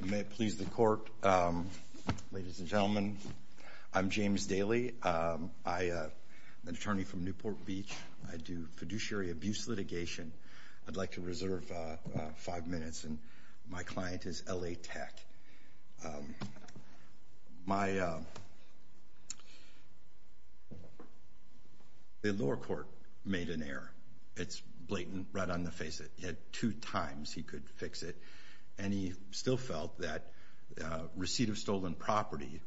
May it please the court, ladies and gentlemen, I'm James Daley. I'm an attorney from Newport Beach. I do fiduciary abuse litigation. I'd like to reserve five minutes and my client is L.A. Tech. The lower court made an error. It's blatant right on the face that he had two times he could fix it and he still felt that receipt of stolen property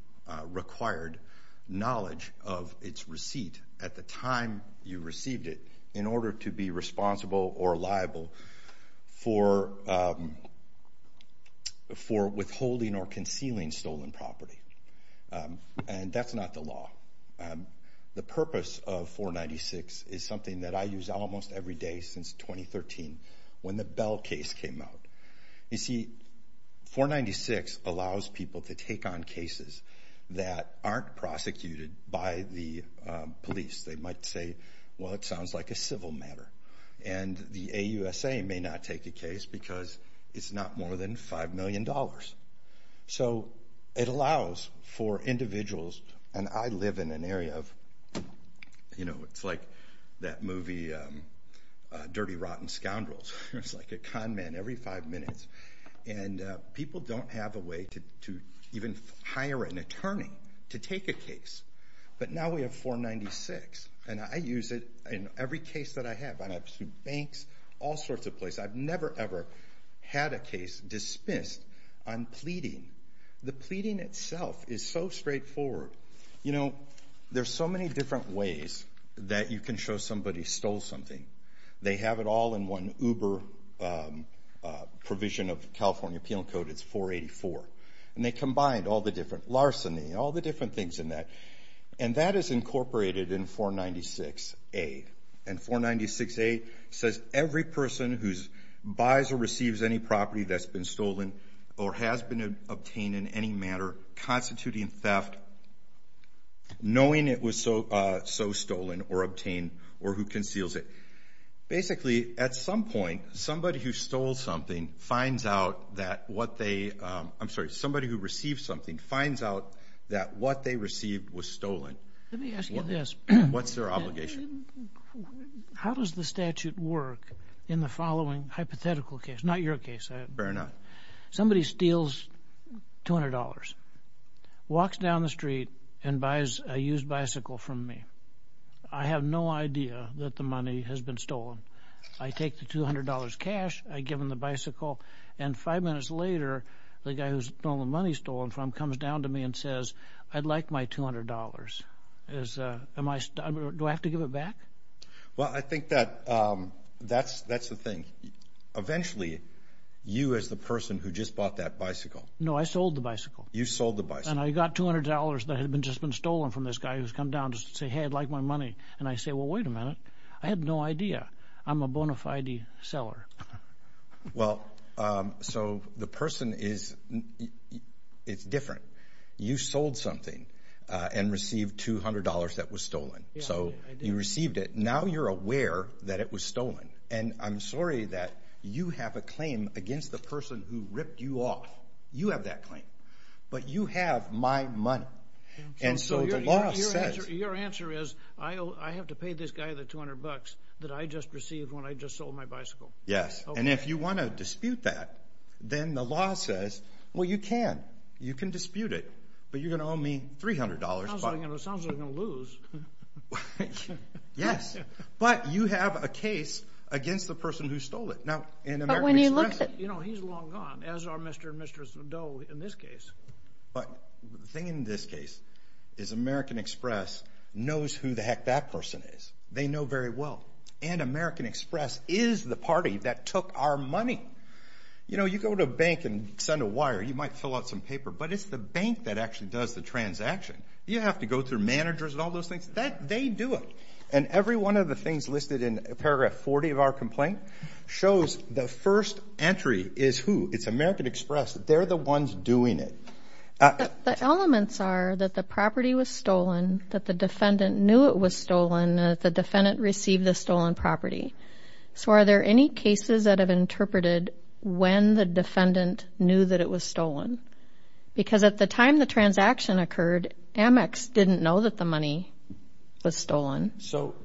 required knowledge of its receipt at the time you received it in order to be responsible or liable for withholding or concealing stolen property and that's not the law. The purpose of 496 is something that I use almost every day since 2013 when the Bell case came out. You see, 496 allows people to take on cases that aren't prosecuted by the police. They might say, well it sounds like a civil matter and the AUSA may not take the case because it's not more than five million dollars. So it allows for individuals and I live in an area of, you know, it's like that movie Dirty Rotten Scoundrels. It's like a con man every five minutes and people don't have a way to even hire an attorney to take a case. But now we have 496 and I use it in every case that I have. I've sued banks, all sorts of places. I've never ever had a case dismissed on pleading. The pleading itself is so straightforward. You know, there's so many different ways that you can show somebody stole something. They have it all in one Uber provision of California Appeal Code. It's 484. And they combine all the different larceny, all the different things in that. And that is incorporated in 496A. And 496A says every person who buys or receives any property that's been stolen or has been obtained in any matter constituting theft, knowing it was so stolen or obtained or who conceals it. Basically, at some point, somebody who stole something finds out that what they, I'm sorry, somebody who received something finds out that what they received was stolen. Let me ask you this. What's their obligation? How does the statute work in the following hypothetical case? Not your case. Fair enough. Somebody steals $200, walks down the street and buys a used bicycle from me. I have no idea that the money has been stolen. I take the $200 cash. I give him the bicycle. And five minutes later, the guy who's stolen the money stolen from comes down to me and says, I'd like my $200. Do I have to give it back? Well, I think that that's the thing. Eventually, you as the person who just bought that bicycle. No, I sold the bicycle. You sold the bicycle. And I got $200 that had just been stolen from this guy who's come down to say, hey, I'd like my money. And I say, well, wait a minute. I have no idea. I'm a bona fide seller. Well, so the person is, it's different. You sold something and received $200 that was stolen. So you received it. Now you're aware that it was stolen. And I'm sorry that you have a claim against the person who the $200 that I just received when I just sold my bicycle. Yes. And if you want to dispute that, then the law says, well, you can. You can dispute it, but you're going to owe me $300. It sounds like I'm going to lose. Yes. But you have a case against the person who stole it. Now, in American Express, he's long gone, as are Mr. and Mrs. Dole in this case. But the thing in this case is American Express knows who the heck that person is. They know very well. And American Express is the party that took our money. You know, you go to a bank and send a wire. You might fill out some paper, but it's the bank that actually does the transaction. You have to go through managers and all those things. They do it. And every one of the things listed in paragraph 40 of our complaint shows the first entry is who. It's American Express. They're the ones doing it. The elements are that the property was stolen, that the defendant knew it was stolen, that the defendant received the stolen property. So are there any cases that have interpreted when the defendant knew that it was stolen? Because at the time the transaction occurred, Amex didn't know that the money was stolen. So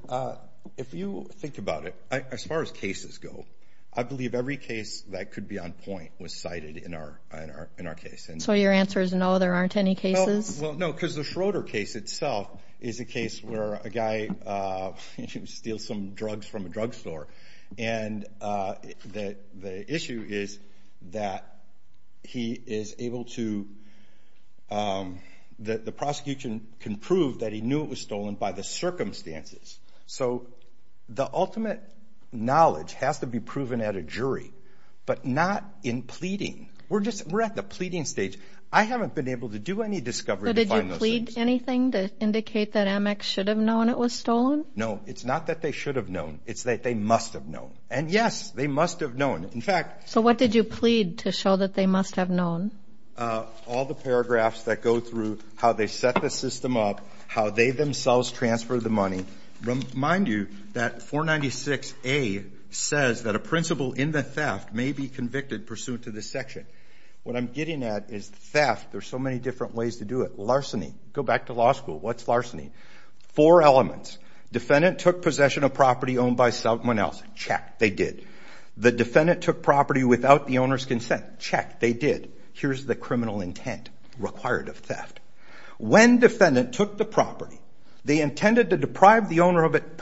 if you think about it, as far as cases go, I believe every case that could be on point was cited in our case. So your answer is no, there aren't any cases? Well, no, because the Schroeder case itself is a case where a guy steals some drugs from a drug store. And the issue is that he is able to, that the prosecution can prove that he knew it was But not in pleading. We're just, we're at the pleading stage. I haven't been able to do any discovery. Did you plead anything to indicate that Amex should have known it was stolen? No, it's not that they should have known. It's that they must have known. And yes, they must have known. In fact, so what did you plead to show that they must have known? All the paragraphs that go through how they set the system up, how they themselves transfer the money. Mind you, that 496A says that a principal in the theft may be convicted pursuant to this section. What I'm getting at is theft, there's so many different ways to do it. Larceny. Go back to law school. What's larceny? Four elements. Defendant took possession of property owned by someone else. Check. They did. The defendant took property without the owner's consent. Check. They did. Here's the criminal intent required of theft. When defendant took the property, they intended to deprive the owner of it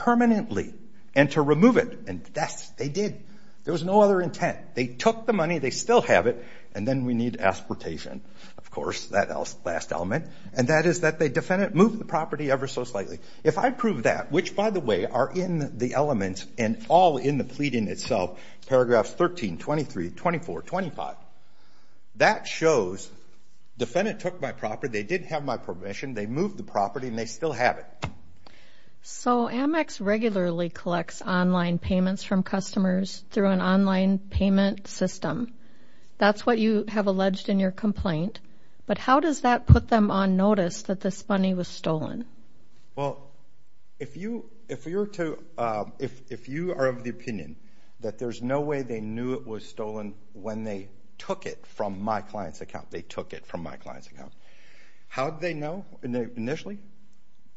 There was no other intent. They took the money, they still have it. And then we need aspartation, of course, that last element. And that is that the defendant moved the property ever so slightly. If I prove that, which by the way, are in the elements and all in the pleading itself, paragraphs 13, 23, 24, 25, that shows defendant took my property, they didn't have my permission, they moved the property and they still have it. So Amex regularly collects online payments from customers through an online payment system. That's what you have alleged in your complaint. But how does that put them on notice that this money was stolen? Well, if you if you're to, if you are of the opinion that there's no way they knew it was stolen when they took it from my client's account, they took it from my client's account. How did they know initially?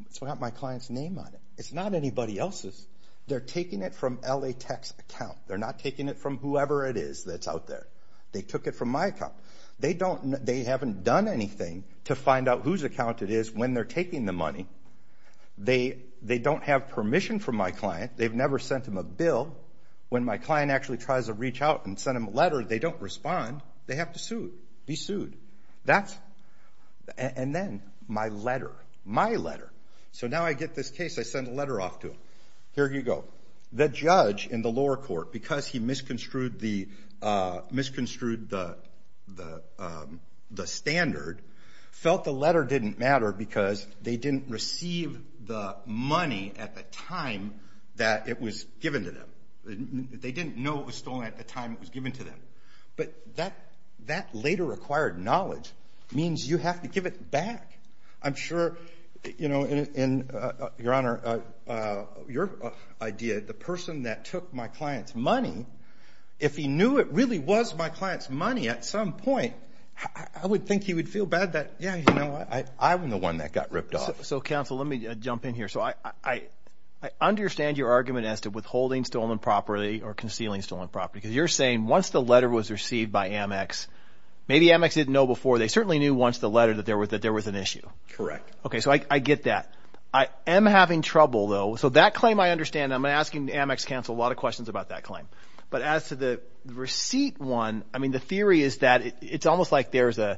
It's not my client's name on it. It's not anybody else's. They're taking it from LA Tech's account. They're not taking it from whoever it is that's out there. They took it from my account. They don't, they haven't done anything to find out whose account it is when they're taking the money. They don't have permission from my client. They've never sent him a bill. When my client actually tries to reach out and send him a letter, they don't respond. They have to sue, be my letter, my letter. So now I get this case, I send a letter off to him. Here you go. The judge in the lower court, because he misconstrued the, misconstrued the, the, the standard, felt the letter didn't matter because they didn't receive the money at the time that it was given to them. They didn't know it was stolen at the time it was given to them. But that, that later acquired knowledge means you have to give it back. I'm sure, you know, in, in, uh, your honor, uh, uh, your idea, the person that took my client's money, if he knew it really was my client's money at some point, I would think he would feel bad that, yeah, you know, I, I'm the one that got ripped off. So counsel, let me jump in here. So I, I, I understand your argument as to withholding stolen property or concealing stolen property, because you're saying once the letter was received by certainly knew once the letter that there was, that there was an issue. Correct. Okay. So I, I get that. I am having trouble though. So that claim, I understand. I'm asking Amex counsel, a lot of questions about that claim, but as to the receipt one, I mean, the theory is that it's almost like there's a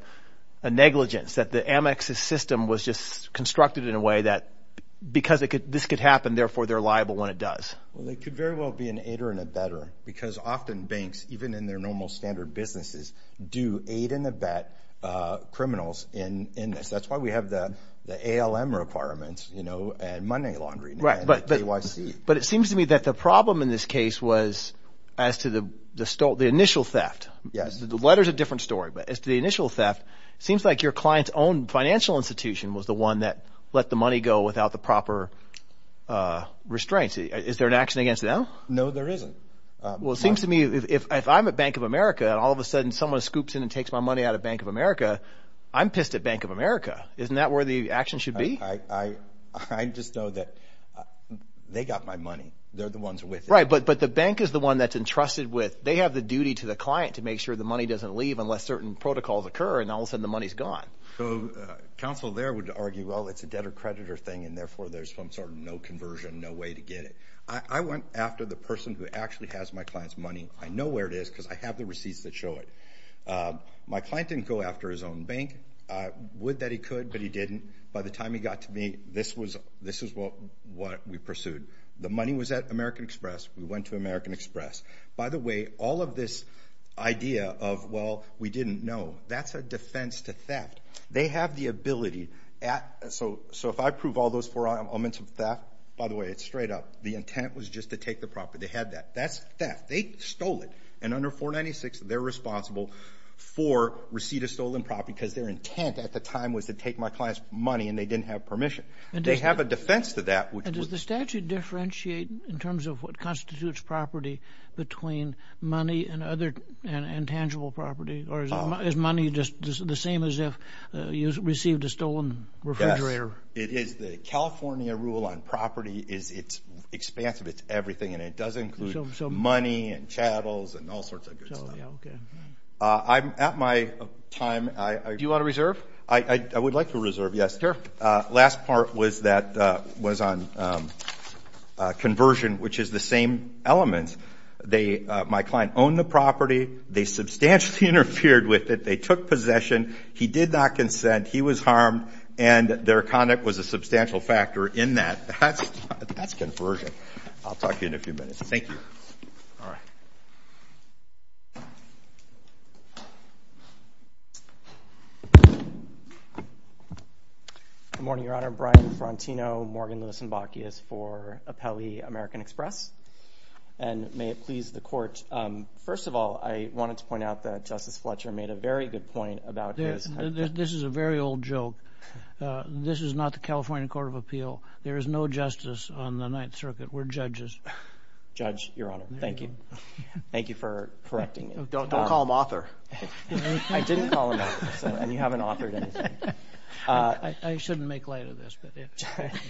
negligence that the Amex system was just constructed in a way that because it could, this could happen, therefore they're liable when it does. Well, they could very well be an aider and a better because often banks, even in their normal standard businesses do aid in a bet criminals in, in this, that's why we have the, the ALM requirements, you know, and money laundry. Right. But, but it seems to me that the problem in this case was as to the, the stole, the initial theft. Yes. The letter's a different story, but as to the initial theft, it seems like your client's own financial institution was the one that let the money go without the proper restraints. Is there an action against them? No, there isn't. Well, it seems to me if, if I'm at a bank of America and all of a sudden someone scoops in and takes my money out of bank of America, I'm pissed at bank of America. Isn't that where the action should be? I just know that they got my money. They're the ones with it. Right. But, but the bank is the one that's entrusted with, they have the duty to the client to make sure the money doesn't leave unless certain protocols occur. And all of a sudden the money's gone. So counsel there would argue, well, it's a debtor creditor thing. And therefore there's some sort of no conversion, no way to get it. I went after the person who actually has my client's money. I know where it is because I have the receipts that show it. My client didn't go after his own bank. Would that he could, but he didn't. By the time he got to me, this was, this is what, what we pursued. The money was at American Express. We went to American Express. By the way, all of this idea of, well, we didn't know, that's a defense to theft. They have the ability at, so, so if I prove all those four elements of theft, by the way, it's straight up. The intent was just to take the property. They had that. That's theft. They stole it. And under 496, they're responsible for receipt of stolen property because their intent at the time was to take my client's money and they didn't have permission. They have a defense to that. Does the statute differentiate in terms of what constitutes property between money and other intangible property? Or is money just the same as if you received a stolen refrigerator? It is. The California rule on property is it's expansive. It's everything. And it does include some money and chattels and all sorts of good stuff. I'm at my time. I, do you want to reserve? I would like to reserve. Yes, sir. Last part was that, was on conversion, which is the same elements. They, my client owned the property. They substantially interfered with it. They took possession. He did not consent. He was harmed. And their conduct was a substantial factor in that. That's, that's conversion. I'll talk to you in a few minutes. Thank you. All right. Good morning, Your Honor. Brian Frantino, Morgan, Lewis, and Bakkeus for Apelli American Express. And may it please the court. First of all, I wanted to point out that Justice Fletcher made a very good point about this. This is a very old joke. This is not the California Court of Appeal. There is no justice on the Ninth Circuit. We're judges. Judge, Your Honor, thank you. Thank you for correcting me. Don't call him author. I didn't call him author. And you haven't authored anything. I shouldn't make light of this.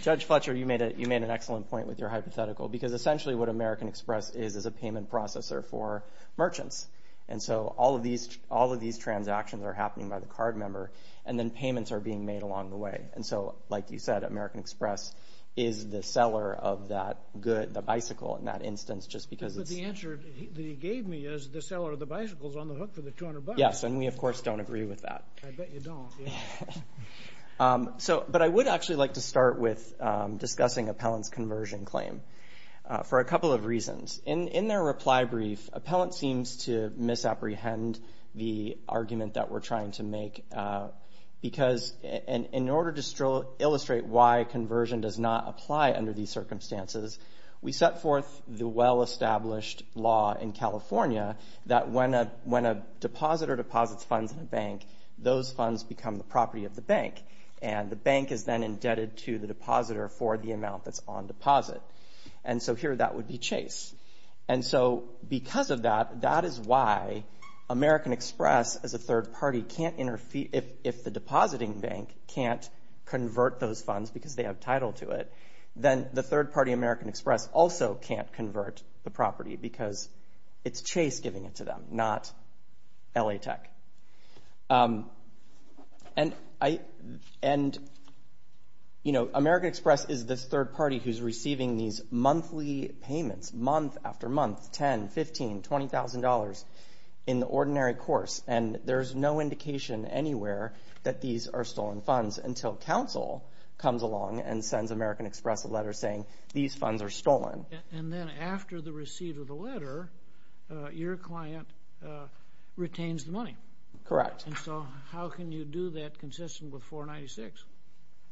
Judge Fletcher, you made a, you made an excellent point with your hypothetical. Because essentially what American Express is, is a payment processor for merchants. And so all of these, all of these transactions are happening by the card member. And then payments are being made along the way. And so, like you said, American Express is the seller of that good, the bicycle, in that instance, just because it's... But the answer that he gave me is the seller of the bicycle is on the hook for the 200 bucks. Yes. And we, of course, don't agree with that. I bet you don't. Yeah. So, but I would actually like to start with discussing Appellant's conversion claim for a couple of reasons. In their reply brief, Appellant seems to misapprehend the argument that we're trying to make. Because in order to illustrate why conversion does not apply under these circumstances, we set forth the well-established law in California that when a, when a depositor deposits funds in a bank, those funds become the property of the bank. And the bank is then indebted to the depositor for the amount that's on deposit. And so here, that would be Chase. And so, because of that, that is why American Express, as a third party, can't interfere. If the depositing bank can't convert those funds because they have title to it, then the third party, American Express, also can't convert the property because it's Chase giving it to them, not LA Tech. And I, and, you know, American Express is this third party who's receiving these monthly payments, month after month, ten, fifteen, twenty thousand dollars, in the ordinary course. And there's no indication anywhere that these are stolen funds until counsel comes along and sends American Express a letter saying these funds are stolen. And then after the receipt of the letter, your client retains the money. Correct. And so how can you do that consistent with 496?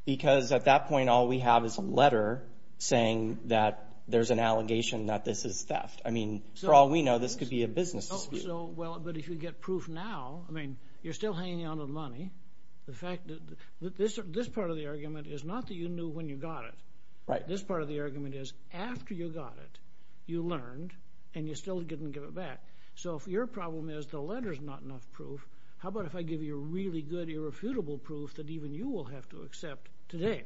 Because at that point, all we have is a letter saying that there's an allegation that this is theft. I mean, for all we know, this could be a business dispute. So, well, but if you get proof now, I mean, you're still hanging on to the money. The fact that this, this part of the argument is not that you knew when you got it. Right. This part of the argument is after you got it, you learned and you still didn't give it back. So if your problem is the letter's not enough proof, how about if I give you a really good, irrefutable proof that even you will have to accept today?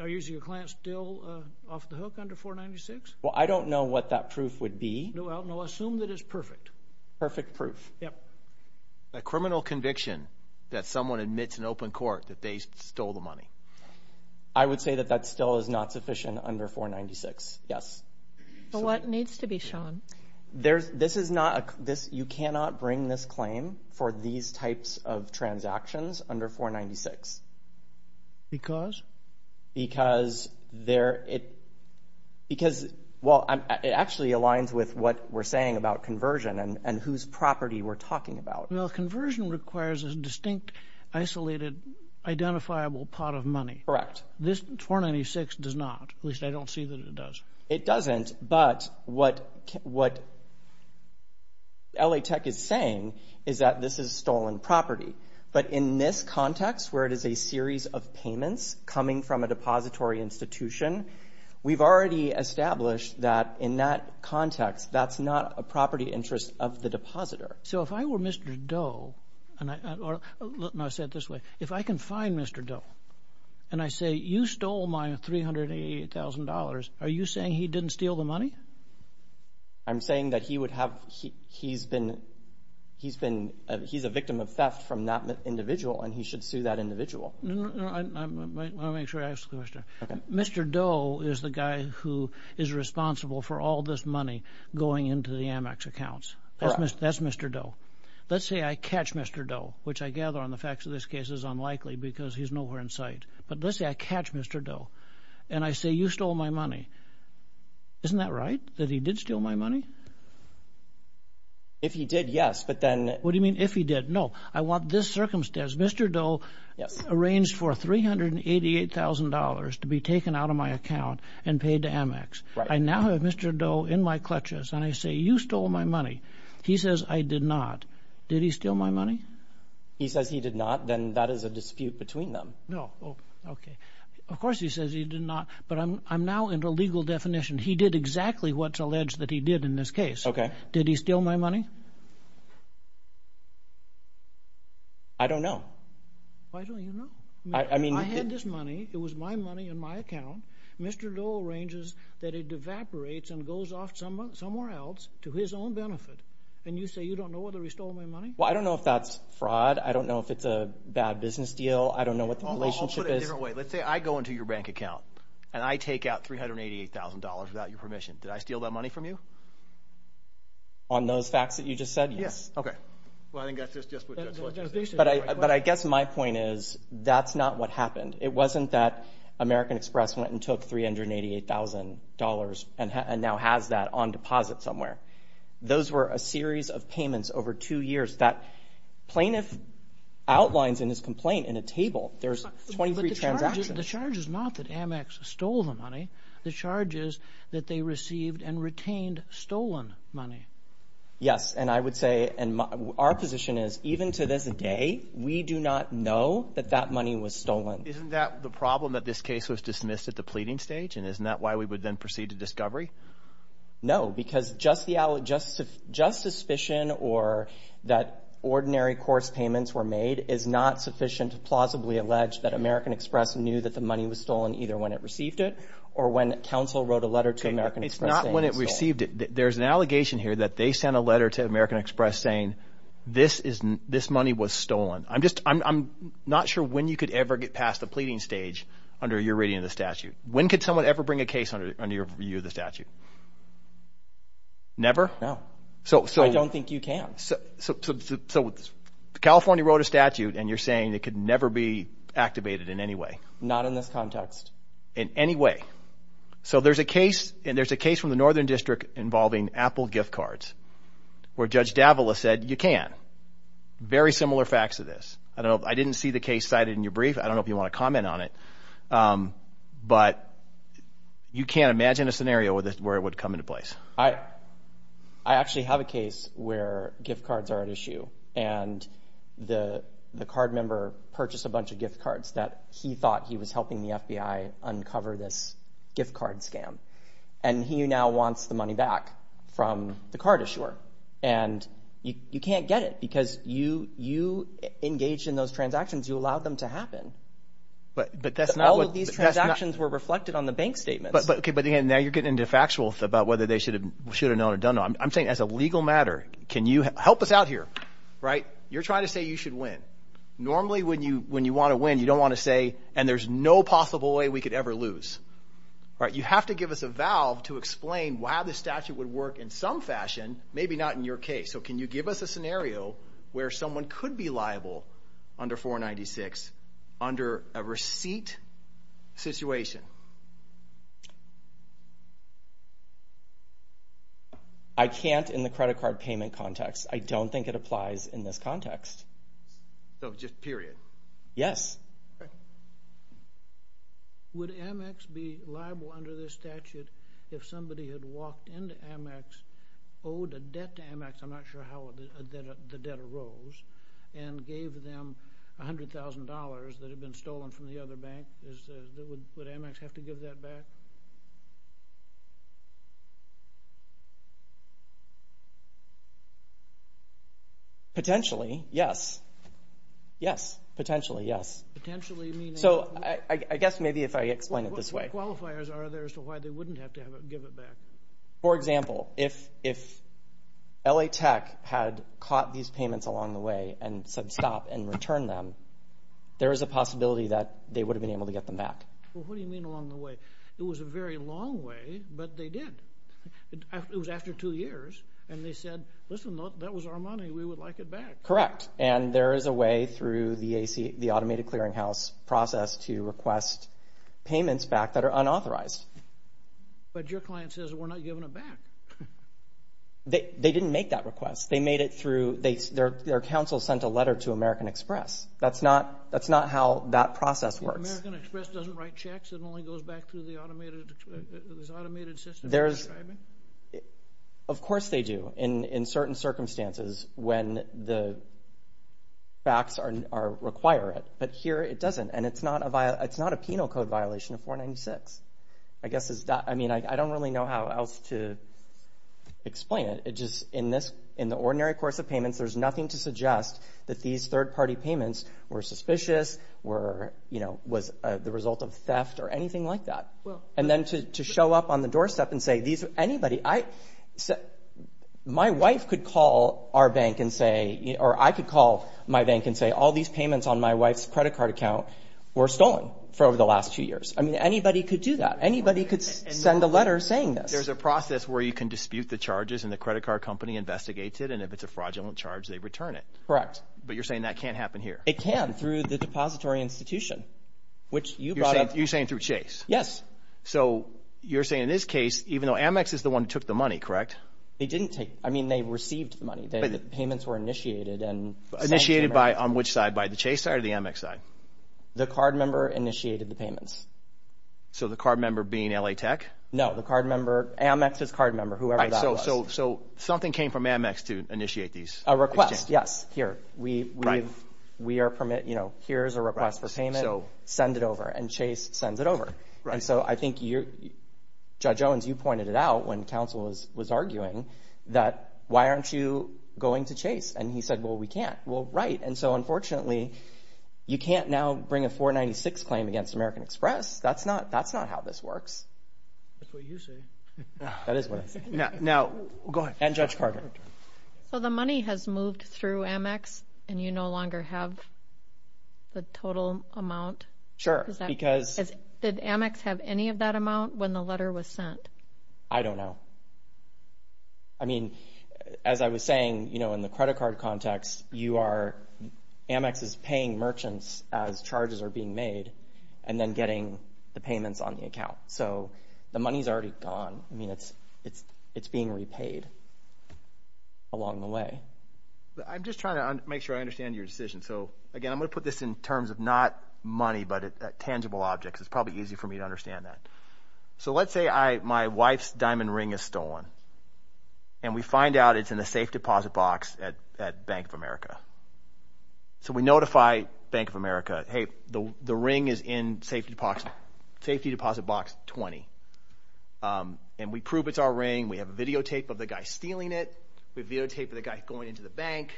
Are you, is your client still off the hook under 496? Well, I don't know what that proof would be. Well, no, assume that it's perfect. Perfect proof. Yep. A criminal conviction that someone admits in open court that they stole the money. I would say that that still is not sufficient under 496. Yes. Well, what needs to be shown? There's, this is not a, this, you cannot bring this claim for these types of transactions under 496. Because? Because there, it, because, well, it actually aligns with what we're saying about conversion and whose property we're talking about. Well, conversion requires a distinct, isolated, identifiable pot of money. Correct. This 496 does not, at least I don't see that it does. It doesn't, but what, what LA Tech is saying is that this is stolen property. But in this context, where it is a series of payments coming from a depository institution, we've already established that in that context, that's not a property interest of the depositor. So if I were Mr. Doe, and I, and I said it this way, if I can find Mr. Doe, and I say, you stole my $388,000, are you saying he didn't steal the money? I'm saying that he would have, he's been, he's been, he's a victim of theft from that individual, and he should sue that individual. No, no, no, I, I, let me make sure I ask the question. Okay. Mr. Doe is the guy who is responsible for all this money going into the Amex accounts. Correct. That's Mr. Doe. Let's say I catch Mr. Doe, which I gather on the facts of this case is unlikely because he's nowhere in sight. But let's say I catch Mr. Doe, and I say, you stole my money. Isn't that right? That he did steal my money? If he did, yes, but then. What do you mean if he did? No, I want this circumstance. Mr. Doe. Yes. Arranged for $388,000 to be taken out of my account and paid to Amex. Right. I now have Mr. Doe in my clutches, and I say, you stole my money. He says, I did not. Did he steal my money? He says he did not, then that is a dispute between them. No. Okay. Of course he says he did not, but I'm, I'm now into legal definition. He did exactly what's alleged that he did in this case. Okay. Did he steal my money? I don't know. Why don't you know? I mean. I had this money. It was my money in my account. Mr. Doe arranges that it evaporates and goes off somewhere else to his own benefit. And you say you don't know whether he stole my money? Well, I don't know if that's fraud. I don't know if it's a bad business deal. I don't know what the relationship is. Let's say I go into your bank account, and I take out $388,000 without your permission. Did I steal that money from you? On those facts that you just said? Yes. Okay. But I, but I guess my point is, that's not what happened. It wasn't that American Express went and took $388,000 and now has that on deposit somewhere. Those were a series of payments over two years that plaintiff outlines in his complaint in a table. There's 23 transactions. The charge is not that Amex stole the money. The charge is that they received and retained stolen money. Yes. And I would say, and our position is, even to this day, we do not know that that money was stolen. Isn't that the problem that this case was dismissed at the pleading stage? And isn't that why we would then proceed to discovery? No, because just the out, just, just suspicion or that ordinary course payments were made is not sufficient to plausibly allege that American Express knew that the money was stolen either when it received it or when counsel wrote a letter to American Express. It's not when it received it. There's an allegation here that they sent a letter to American Express saying this is, this money was stolen. I'm just, I'm not sure when you could ever get past the pleading stage under your reading of the statute. When could someone ever bring a case under your view of the statute? Never? No. So, so I don't think you can. So, so, so California wrote a statute and you're saying it could never be activated in any way? Not in this context. In any way? So there's a case and there's a case from the Northern District involving Apple gift cards where Judge Davila said you can. Very similar facts to this. I don't know. I didn't see the case cited in your brief. I don't know if you want to comment on it. But you can't imagine a scenario where this, where it would come into place. I, I actually have a case where gift cards are at issue and the, the card member purchased a bunch of gift cards that he thought he was helping the FBI uncover this gift card scam. And he now wants the money back from the card issuer. And you, you can't get it because you, you engaged in those transactions. You allowed them to happen. But, but that's not what these transactions were reflected on the bank statement. But, but, okay. But again, now you're getting into factual about whether they should have, should have known or don't know. I'm saying as a legal matter, can you help us out here? Right. You're trying to say you should win. Normally when you, when you want to win, you don't want to say, and there's no possible way we could ever lose. Right. You have to give us a scenario where someone could be liable under 496 under a receipt situation. I can't in the credit card payment context. I don't think it applies in this context. So just period. Yes. Would Amex be liable under this statute if somebody had walked into Amex, owed a debt to Amex, I'm not sure how the debt arose, and gave them $100,000 that had been stolen from the other Yes. Potentially. Yes. So I guess maybe if I explain it this way, for example, if, if LA tech had caught these payments along the way and said stop and return them, there is a possibility that they would have been able to get them back. What do you mean along the way? It was a very long way, but they did. It was after two years. And they said, listen, that was our money. We would like it back. Correct. And there is a way through the automated clearinghouse process to request payments back that are unauthorized. But your client says we're not giving it back. They didn't make that request. They made it through, their counsel sent a letter to American Express. That's not how that process works. American Express doesn't write checks. It only goes back through the automated system. Of course they do, in certain circumstances, when the facts require it. But here it doesn't. And it's not a penal code violation of 496. I guess it's not. I mean, I don't really know how else to explain it. It just, in this, in the ordinary course of payments, there's nothing to suggest that these third party payments were suspicious, were, you know, was the result of theft or anything like that. And then to show up on the doorstep and say, these, anybody, I, my wife could call our bank and say, or I could call my bank and say, all these payments on my wife's credit card account were stolen for over the last two years. I mean, anybody could do that. Anybody could send a letter saying this. There's a process where you can dispute the charges and the credit card company investigates it. And if it's a fraudulent charge, they return it. Correct. But you're saying that can't happen here. It can through the which you brought up. You're saying through Chase? Yes. So you're saying in this case, even though Amex is the one who took the money, correct? They didn't take, I mean, they received the money. The payments were initiated and. Initiated by, on which side, by the Chase side or the Amex side? The card member initiated the payments. So the card member being LA Tech? No, the card member, Amex's card member, whoever that was. So, so something came from Amex to initiate these? A request, yes. Here, we've, we are permit, you know, here's a request for payment. So send it over and Chase sends it over. Right. And so I think you're, Judge Owens, you pointed it out when counsel was, was arguing that why aren't you going to Chase? And he said, well, we can't. Well, right. And so unfortunately you can't now bring a 496 claim against American Express. That's not, that's not how this works. That's what you say. That is what I'm saying. Now, now go ahead. And Judge Carter. So the money has moved through Amex and you no longer have the total amount? Sure. Because did Amex have any of that amount when the letter was sent? I don't know. I mean, as I was saying, you know, in the credit card context, you are, Amex is paying merchants as charges are being made and then getting the payments on the account. So the money's already gone. I mean, it's, it's, it's being repaid along the way. I'm just trying to make sure I understand your decision. So again, I'm gonna put this in terms of not money, but tangible objects. It's probably easy for me to understand that. So let's say I, my wife's diamond ring is stolen and we find out it's in a safe deposit box at, at Bank of America. So we notify Bank of America, Hey, the ring is in safety box, safety deposit box 20. And we prove it's our ring. We have a videotape of the guy stealing it. We videotape the guy going into the bank.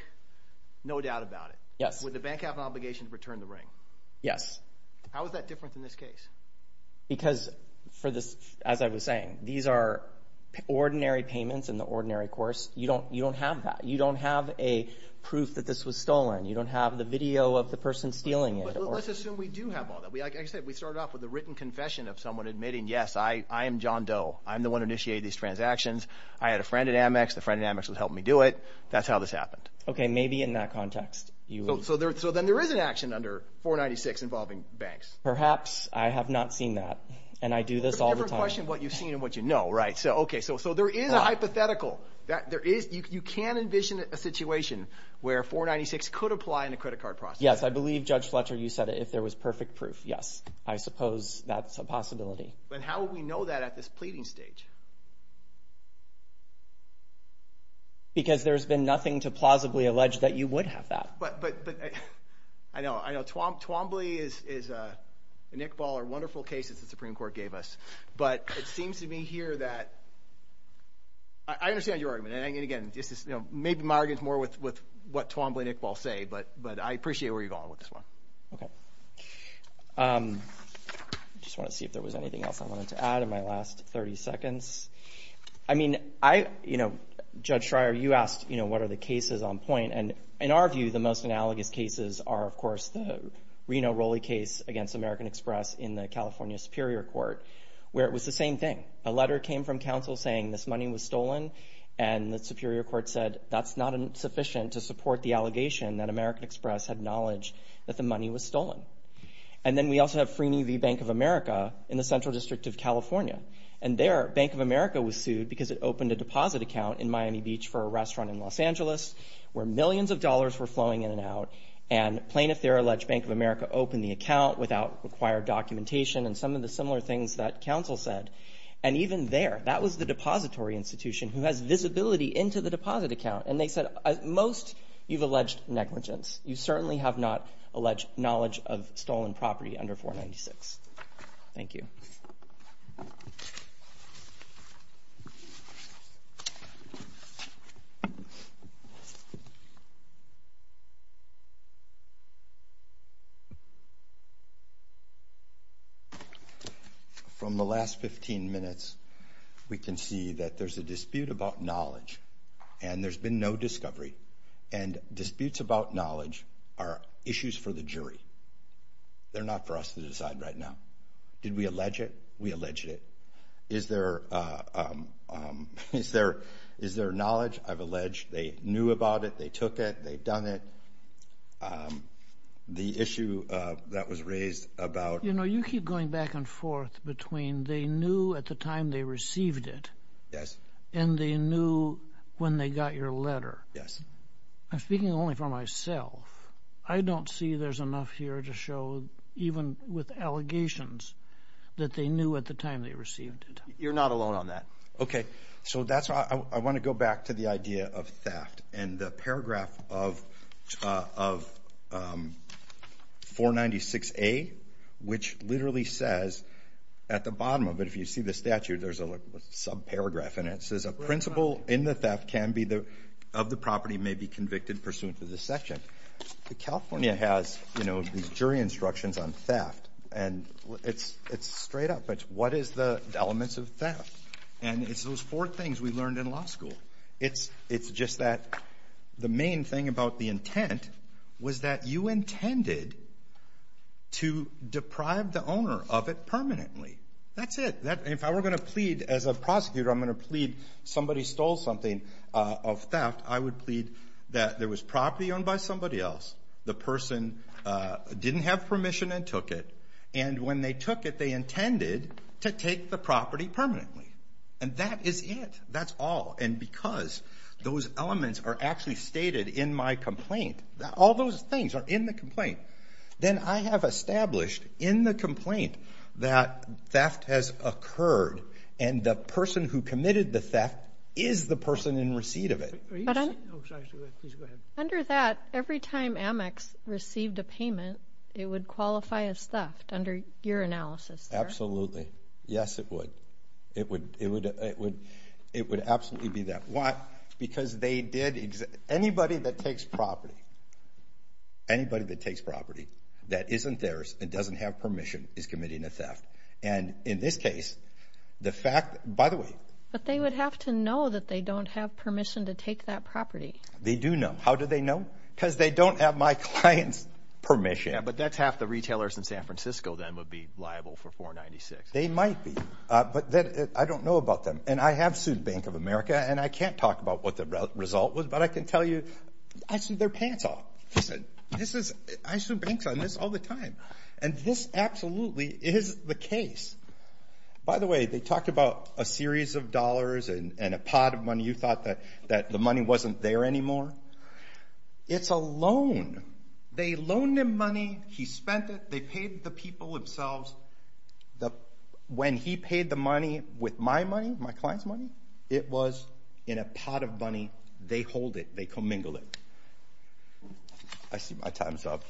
No doubt about it. Yes. Would the bank have an obligation to return the ring? Yes. How is that different in this case? Because for this, as I was saying, these are ordinary payments in the ordinary course. You don't, you don't have that. You don't have a proof that this was stolen. You don't have the video of the person stealing it. Let's assume we do have all that. We, like I said, we started off with a written confession of someone admitting, yes, I, I am John Doe. I'm the one who initiated these transactions. I had a friend at Amex. The friend at Amex was helping me do it. That's how this happened. Okay. Maybe in that context. So then there is an action under 496 involving banks. Perhaps I have not seen that. And I do this all the time. It's a different question what you've seen and what you know. Right. So, okay. So, so there is a hypothetical that there is, you can envision a situation where 496 could apply in a there was perfect proof. Yes, I suppose that's a possibility. But how would we know that at this pleading stage? Because there's been nothing to plausibly allege that you would have that. But, but, but I know, I know Twombly is, is, uh, and Iqbal are wonderful cases that Supreme Court gave us, but it seems to me here that I understand your argument. And again, this is, you know, maybe my argument is more with, with what Twombly and Iqbal say, but, but I appreciate where you're going with this one. Okay. Um, just want to see if there was anything else I wanted to add in my last 30 seconds. I mean, I, you know, Judge Schreier, you asked, you know, what are the cases on point? And in our view, the most analogous cases are, of course, the Reno Roley case against American Express in the California Superior Court, where it was the same thing. A letter came from counsel saying this money was stolen. And the Superior Court said that's not sufficient to support the allegation that American Express had knowledge that the money was stolen. And then we also have Freeney v. Bank of America in the Central District of California. And there, Bank of America was sued because it opened a deposit account in Miami Beach for a restaurant in Los Angeles where millions of dollars were flowing in and out. And plaintiff there alleged Bank of America opened the account without required documentation and some of the similar things that counsel said. And even there, that was the depository institution who has visibility into the deposit account. And they said, most, you've alleged negligence. You certainly have not alleged knowledge of stolen property under 496. Thank you. From the last 15 minutes, we can see that there's a dispute about knowledge, and there's been no discovery. And disputes about knowledge are issues for the jury. They're not for us to decide right now. Did we allege it? We alleged it. Is there knowledge? I've alleged they knew about it. They took it. They've done it. The issue that was raised about— You know, you keep going back and forth between they knew at the time they received it and they knew when they got your letter. I'm speaking only for myself. I don't see there's enough here to show, even with allegations, that they knew at the time they received it. You're not alone on that. Okay. I want to go back to the idea of theft. And the paragraph of 496A, which literally says at the bottom of it, if you see the statute, there's a subparagraph in it. It says, a principal in the theft of the property may be convicted pursuant to this section. California has these jury instructions on theft, and it's straight up. What is the elements of theft? And it's those four things we learned in law school. It's just that the main thing about the intent was that you intended to deprive the owner of it permanently. That's it. If I were going to plead, as a prosecutor, I'm going to plead somebody stole something of theft, I would plead that there was property owned by somebody else, the person didn't have permission and took it, and when they took it, they intended to take the property permanently. And that is it. That's all. And because those elements are actually stated in my complaint, all those things are in the complaint, then I have established in the complaint that the person who committed the theft is the person in receipt of it. But under that, every time Amex received a payment, it would qualify as theft under your analysis? Absolutely. Yes, it would. It would. It would. It would. It would absolutely be that. Why? Because they did. Anybody that takes property, anybody that takes property that isn't theirs and doesn't have permission is committing a theft. And in this case, the fact, by the way. But they would have to know that they don't have permission to take that property. They do know. How do they know? Because they don't have my client's permission. But that's half the retailers in San Francisco then would be liable for 496. They might be, but I don't know about them. And I have sued Bank of America, and I can't talk about what the result was, but I can tell you, I sued their pants off. This is, I sued banks on this all the time. And this absolutely is the case. By the way, they talked about a series of dollars and a pot of money. You thought that the money wasn't there anymore. It's a loan. They loaned him money. He spent it. They paid the people themselves. When he paid the money with my money, my client's money, it was in a pot of money. They hold it. They commingle it. I see my time's up.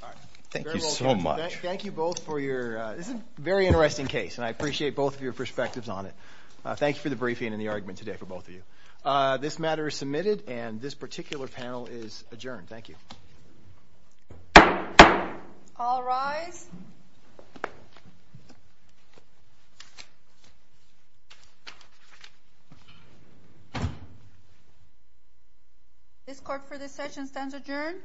Thank you so much. Thank you both for your, this is a very interesting case, and I appreciate both of your perspectives on it. Thank you for the briefing and the argument today for both of you. This matter is submitted, and this particular panel is adjourned. Thank you. All rise. This court for this session stands adjourned.